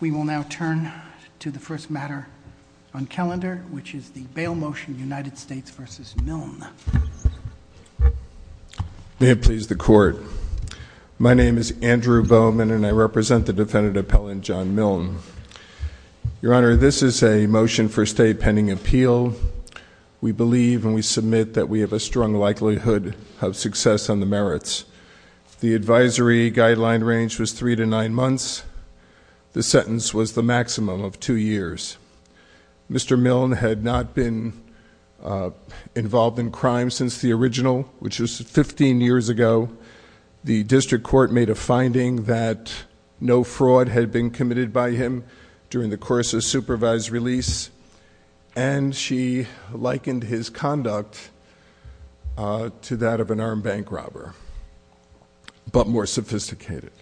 We will now turn to the first matter on calendar, which is the bail motion United States v. Milne. May it please the court. My name is Andrew Bowman and I represent the Defendant Appellant John Milne. Your Honor, this is a motion for state pending appeal. We believe and we submit that we have a strong likelihood of success on merits. The advisory guideline range was three to nine months. The sentence was the maximum of two years. Mr. Milne had not been involved in crime since the original, which was 15 years ago. The district court made a finding that no fraud had been committed by him during the course of supervised release and she but more sophisticated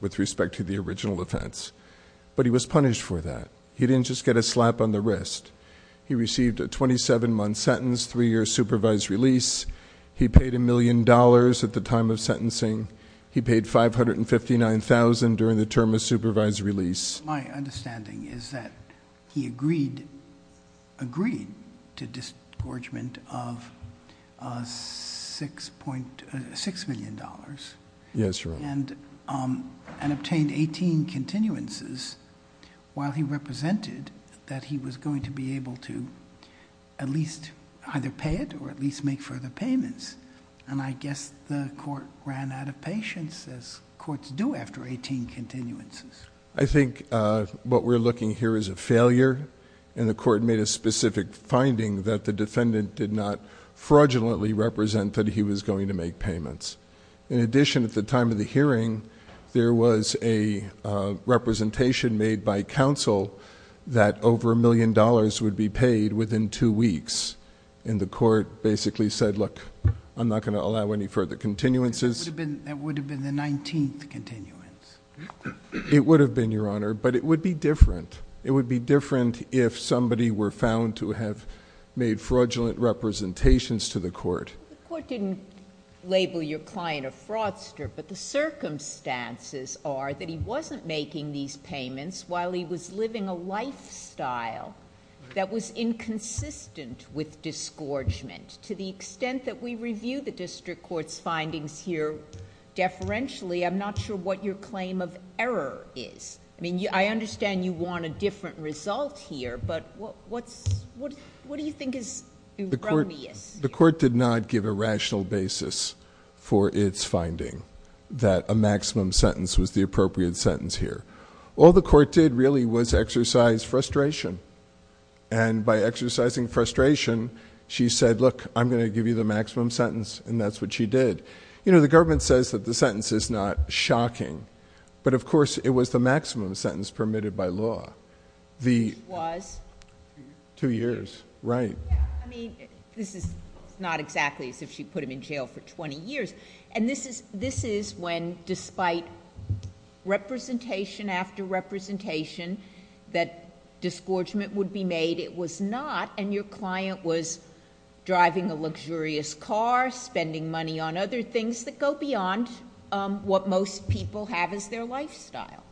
with respect to the original offense. But he was punished for that. He didn't just get a slap on the wrist. He received a 27-month sentence, three-year supervised release. He paid a million dollars at the time of sentencing. He paid $559,000 during the term of supervised release. My understanding is that he agreed to disgorgement of $6 million and obtained 18 continuances while he represented that he was going to be able to at least either pay it or at least make further payments. I guess the court ran out of patience as courts do after 18 continuances. I think what we're looking here is a failure and the court made a specific finding that the defendant did not fraudulently represent that he was going to make payments. In addition, at the time of the hearing, there was a representation made by counsel that over a million dollars would be paid within two weeks and the court basically said, look, I'm not going to allow any further continuances. That would have been the 19th continuance. It would have been, Your Honor, but it would be different. It would be different if somebody were found to have made fraudulent representations to the court. The court didn't label your client a fraudster, but the circumstances are that he wasn't making these payments while he was living a lifestyle that was inconsistent with disgorgement. To the extent that we review the district court's findings here deferentially, I'm not sure what your claim of error is. I understand you want a different result here, but what do you think is erroneous? The court did not give a rational basis for its finding that a maximum sentence was the appropriate sentence here. All the court did really was exercise frustration. By exercising frustration, she said, look, I'm going to give you the maximum sentence, and that's what she did. The government says that the sentence is not shocking, but of course it was the maximum sentence permitted by law. Which was? Two years. Two years, right. I mean, this is not exactly as if she put him in jail for 20 years. This is when despite representation after representation that disgorgement would be made, it was not, and your client was driving a luxurious car, spending money on other things that go beyond what most people have as their lifestyle.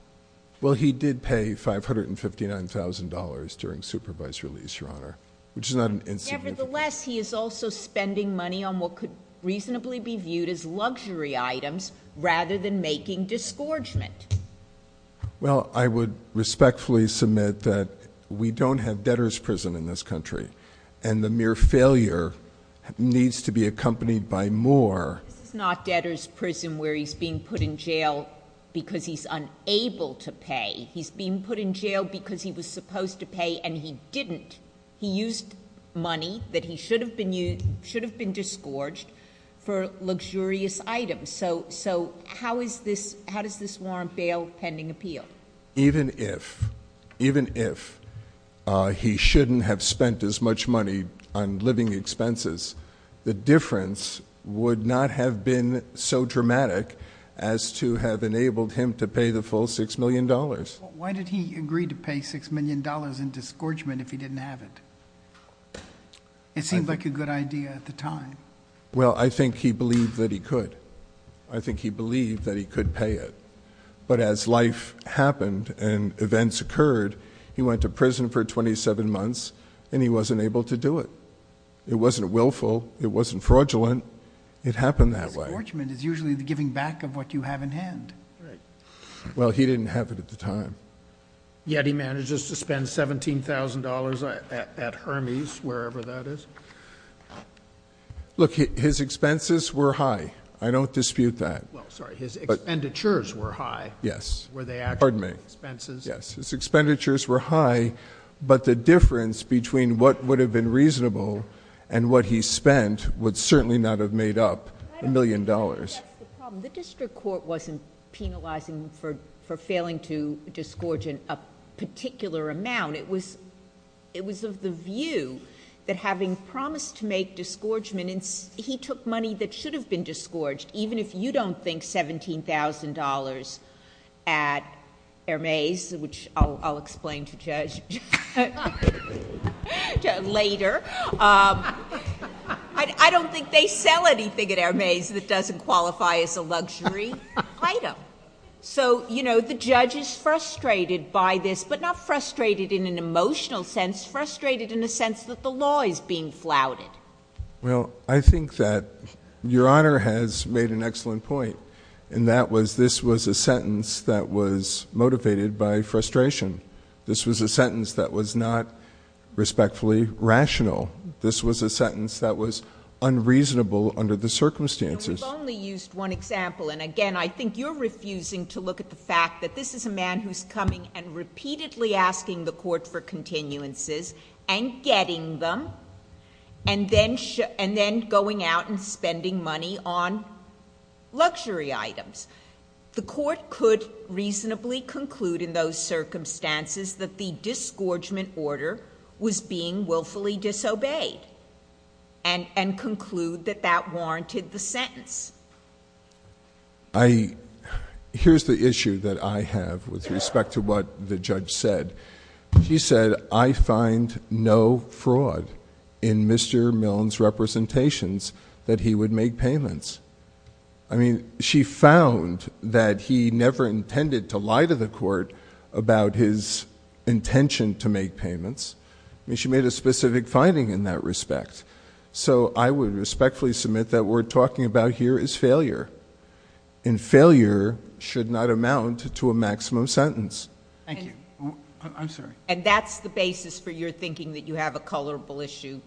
Well, he did pay $559,000 during supervised release, Your Honor, which is not an insignificant... Nevertheless, he is also spending money on what could reasonably be viewed as luxury items rather than making disgorgement. Well, I would respectfully submit that we don't have debtor's prison in this country, and the mere failure needs to be accompanied by more... This is not debtor's prison where he's being put in jail because he's unable to pay. He's being put in jail because he was supposed to pay, and he didn't. He used money that he should have been disgorged for luxurious items. So how is this... how does this warrant bail pending appeal? Even if, even if he shouldn't have spent as much money on living expenses, the difference would not have been so dramatic as to have enabled him to pay the full $6 million. Why did he agree to pay $6 million in disgorgement if he didn't have it? It seemed like a good idea at the time. Well, I think he believed that he could. I think he believed that he could pay it. But as life happened and events occurred, he went to prison for 27 months, and he wasn't able to do it. It wasn't willful. It wasn't fraudulent. It happened that way. Disgorgement is usually the giving back of what you have in hand. Right. Well, he didn't have it at the time. Yet he manages to spend $17,000 at Hermes, wherever that is. Look, his expenses were high. I don't dispute that. Well, sorry. His expenditures were high. Yes. Were they actual expenses? Pardon me. Yes. His expenditures were high, but the difference between what would have been reasonable and what he spent would certainly not have made up $1 million. That's the problem. The district court wasn't penalizing him for failing to disgorge in a particular amount. It was of the view that having promised to make disgorgement, he took money that should have been disgorged, even if you don't think $17,000 at Hermes, which I'll explain to Judge later. I don't think they sell anything at Hermes that doesn't qualify as a luxury item. So, you know, the judge is frustrated by this, but not frustrated in an emotional sense, frustrated in a sense that the law is being flouted. Well, I think that Your Honor has made an excellent point, and that was this was a sentence that was motivated by frustration. This was a sentence that was not respectfully rational. This was a sentence that was unreasonable under the circumstances. We've only used one example, and again, I think you're refusing to look at the fact that this is a man who's coming and repeatedly asking the And then going out and spending money on luxury items. The court could reasonably conclude in those circumstances that the disgorgement order was being willfully disobeyed, and conclude that that warranted the sentence. Here's the issue that I have with respect to what the judge said. She said, I find no fraud in Mr. Milne's representations that he would make payments. I mean, she found that he never intended to lie to the court about his intention to make payments. I mean, she made a specific finding in that respect. So I would respectfully submit that what we're talking about here is failure, and failure should not amount to a maximum sentence. Thank you. I'm sorry. And that's the basis for your thinking that you have a culpable issue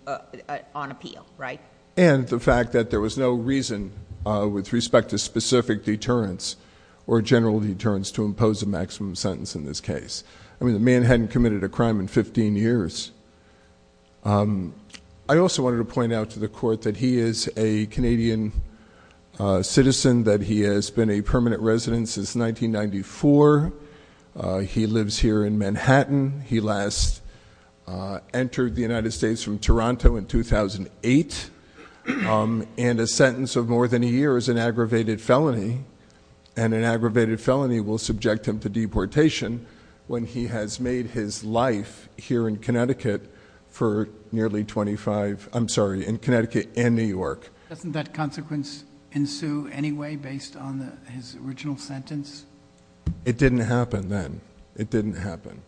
on appeal, right? And the fact that there was no reason with respect to specific deterrence or general deterrence to impose a maximum sentence in this case. I mean, the man hadn't committed a crime in 15 years. I also wanted to point out to the court that he is a Canadian citizen, that he has been a permanent resident since 1994. He lives here in Manhattan. He last entered the United States from Toronto in 2008, and a sentence of more than a year is an aggravated felony, and an aggravated felony will subject him to deportation when he has made his life here in Connecticut for nearly 25, I'm sorry, in Connecticut and New York. Doesn't that consequence ensue anyway based on his original sentence? It didn't happen then. It didn't happen.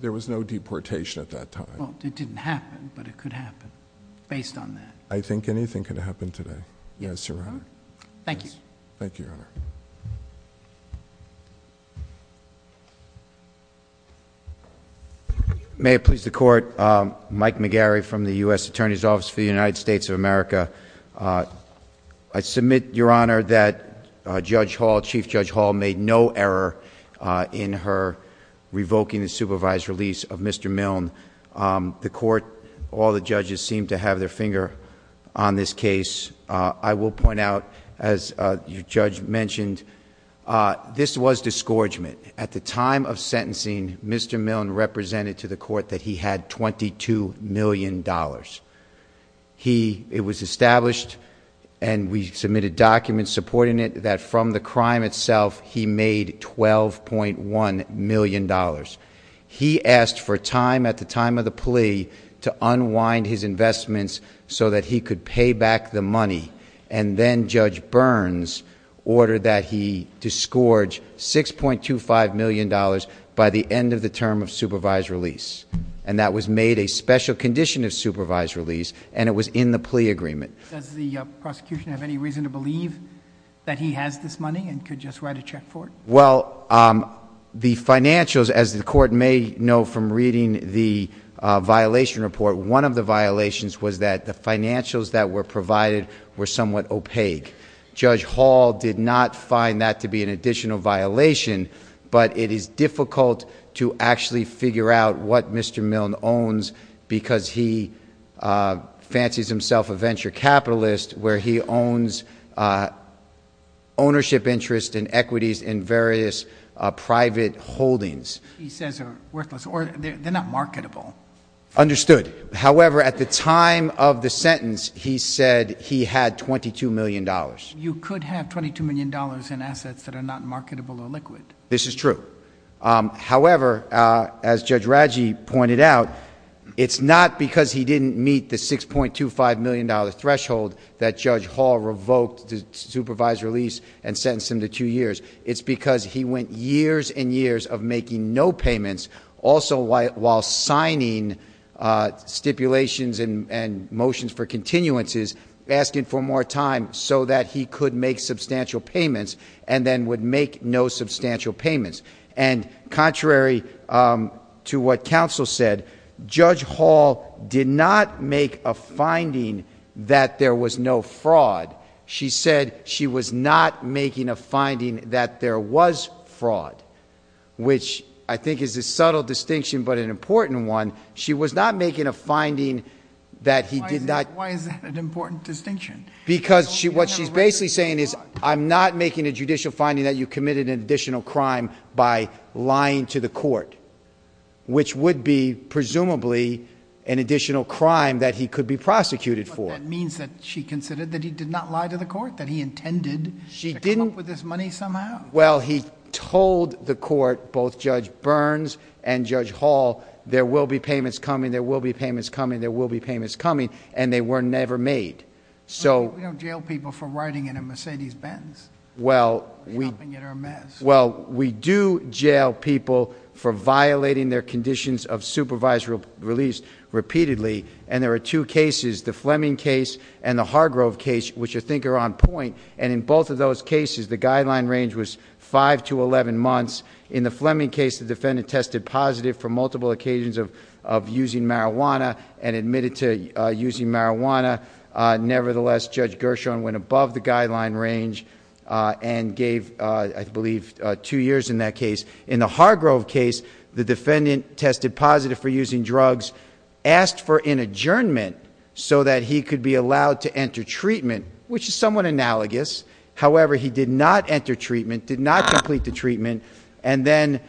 There was no deportation at that time. Well, it didn't happen, but it could happen based on that. I think anything could happen today. Yes, Your Honor. Thank you. Thank you, Your Honor. May it please the Court, Mike McGarry from the U.S. Attorney's Office for the United States of America. I submit, Your Honor, that Judge Hall, Chief Judge Hall, made no error in her revoking the supervised release of Mr. Milne. The Court, all the judges seem to have their finger on this case. I will point out, as your judge mentioned, this was discouragement. At the time of sentencing, Mr. Milne represented to $12.1 million. It was established, and we submitted documents supporting it, that from the crime itself, he made $12.1 million. He asked for time at the time of the plea to unwind his investments so that he could pay back the money, and then Judge Burns ordered that he disgorge $6.25 million by the end of the term of supervised release. That was made a special condition of supervised release, and it was in the plea agreement. Does the prosecution have any reason to believe that he has this money and could just write a check for it? The financials, as the Court may know from reading the violation report, one of the violations was that the financials that were provided were somewhat opaque. Judge Hall did not find that to be an additional violation, but it is difficult to actually figure out what Mr. Milne owns because he fancies himself a venture capitalist where he owns ownership interests and equities in various private holdings. He says they're worthless, or they're not marketable. Understood. However, at the time of the sentence, he said he had $22 million. You could have $22 million in assets that are not marketable or liquid. This is true. However, as Judge Radji pointed out, it's not because he didn't meet the $6.25 million threshold that Judge Hall revoked the supervised release and sentenced him to two years. It's because he went years and years of making no payments, also while signing stipulations and motions for continuances, asking for more time so that he could make substantial payments and then would make no substantial payments. Contrary to what counsel said, Judge Hall did not make a finding that there was no fraud. She said she was not making a finding that there was fraud, which I think is a subtle distinction but an important one. She was not making a finding that he did not... Why is that an important distinction? Because what she's basically saying is, I'm not making a judicial finding that you committed an additional crime by lying to the court, which would be, presumably, an additional crime that he could be prosecuted for. But that means that she considered that he did not lie to the court, that he intended to come up with this money somehow. Well, he told the court, both Judge Burns and Judge Hall, there will be payments coming, there will be payments coming, there will be payments coming, and they were never made. So... We don't jail people for riding in a Mercedes-Benz, helping get our mess. Well, we do jail people for violating their conditions of supervisory release repeatedly, and there are two cases, the Fleming case and the Hargrove case, which I think are on point. In both of those cases, the guideline range was five to 11 months. In the Fleming case, the defendant tested positive for multiple occasions of using marijuana and admitted to using marijuana. Nevertheless, Judge Gershon went above the guideline range and gave, I believe, two years in that case. In the Hargrove case, the defendant tested positive for using drugs, asked for an adjournment so that he could be allowed to enter treatment, which is somewhat analogous. However, he did not enter the treatment and then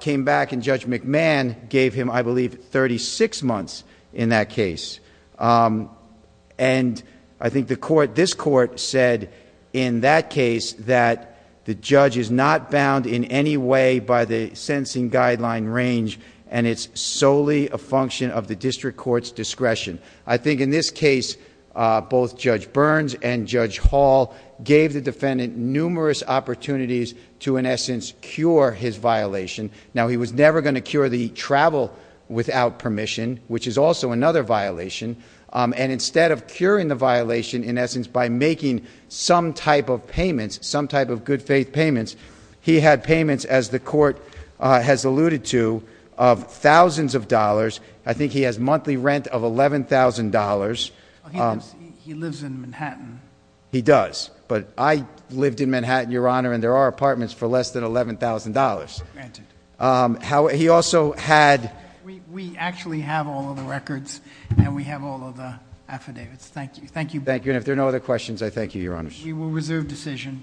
came back and Judge McMahon gave him, I believe, thirty-six months in that case. I think this Court said in that case that the judge is not bound in any way by the sentencing guideline range and it's solely a function of the district court's discretion. I think in this case, both Judge Burns and Judge Hall gave the defendant numerous opportunities to in essence cure his violation. Now, he was never going to cure the travel without permission, which is also another violation, and instead of curing the violation in essence by making some type of payments, some type of good faith payments, he had payments, as the Court has alluded to, of thousands of dollars. I think he has monthly rent of $11,000. He lives in Manhattan. He does, but I lived in Manhattan, Your Honor, and there are apartments for less than $11,000. He also had... We actually have all of the records and we have all of the affidavits. Thank you. Thank you. And if there are no other questions, I thank you, Your Honor. We will reserve decision.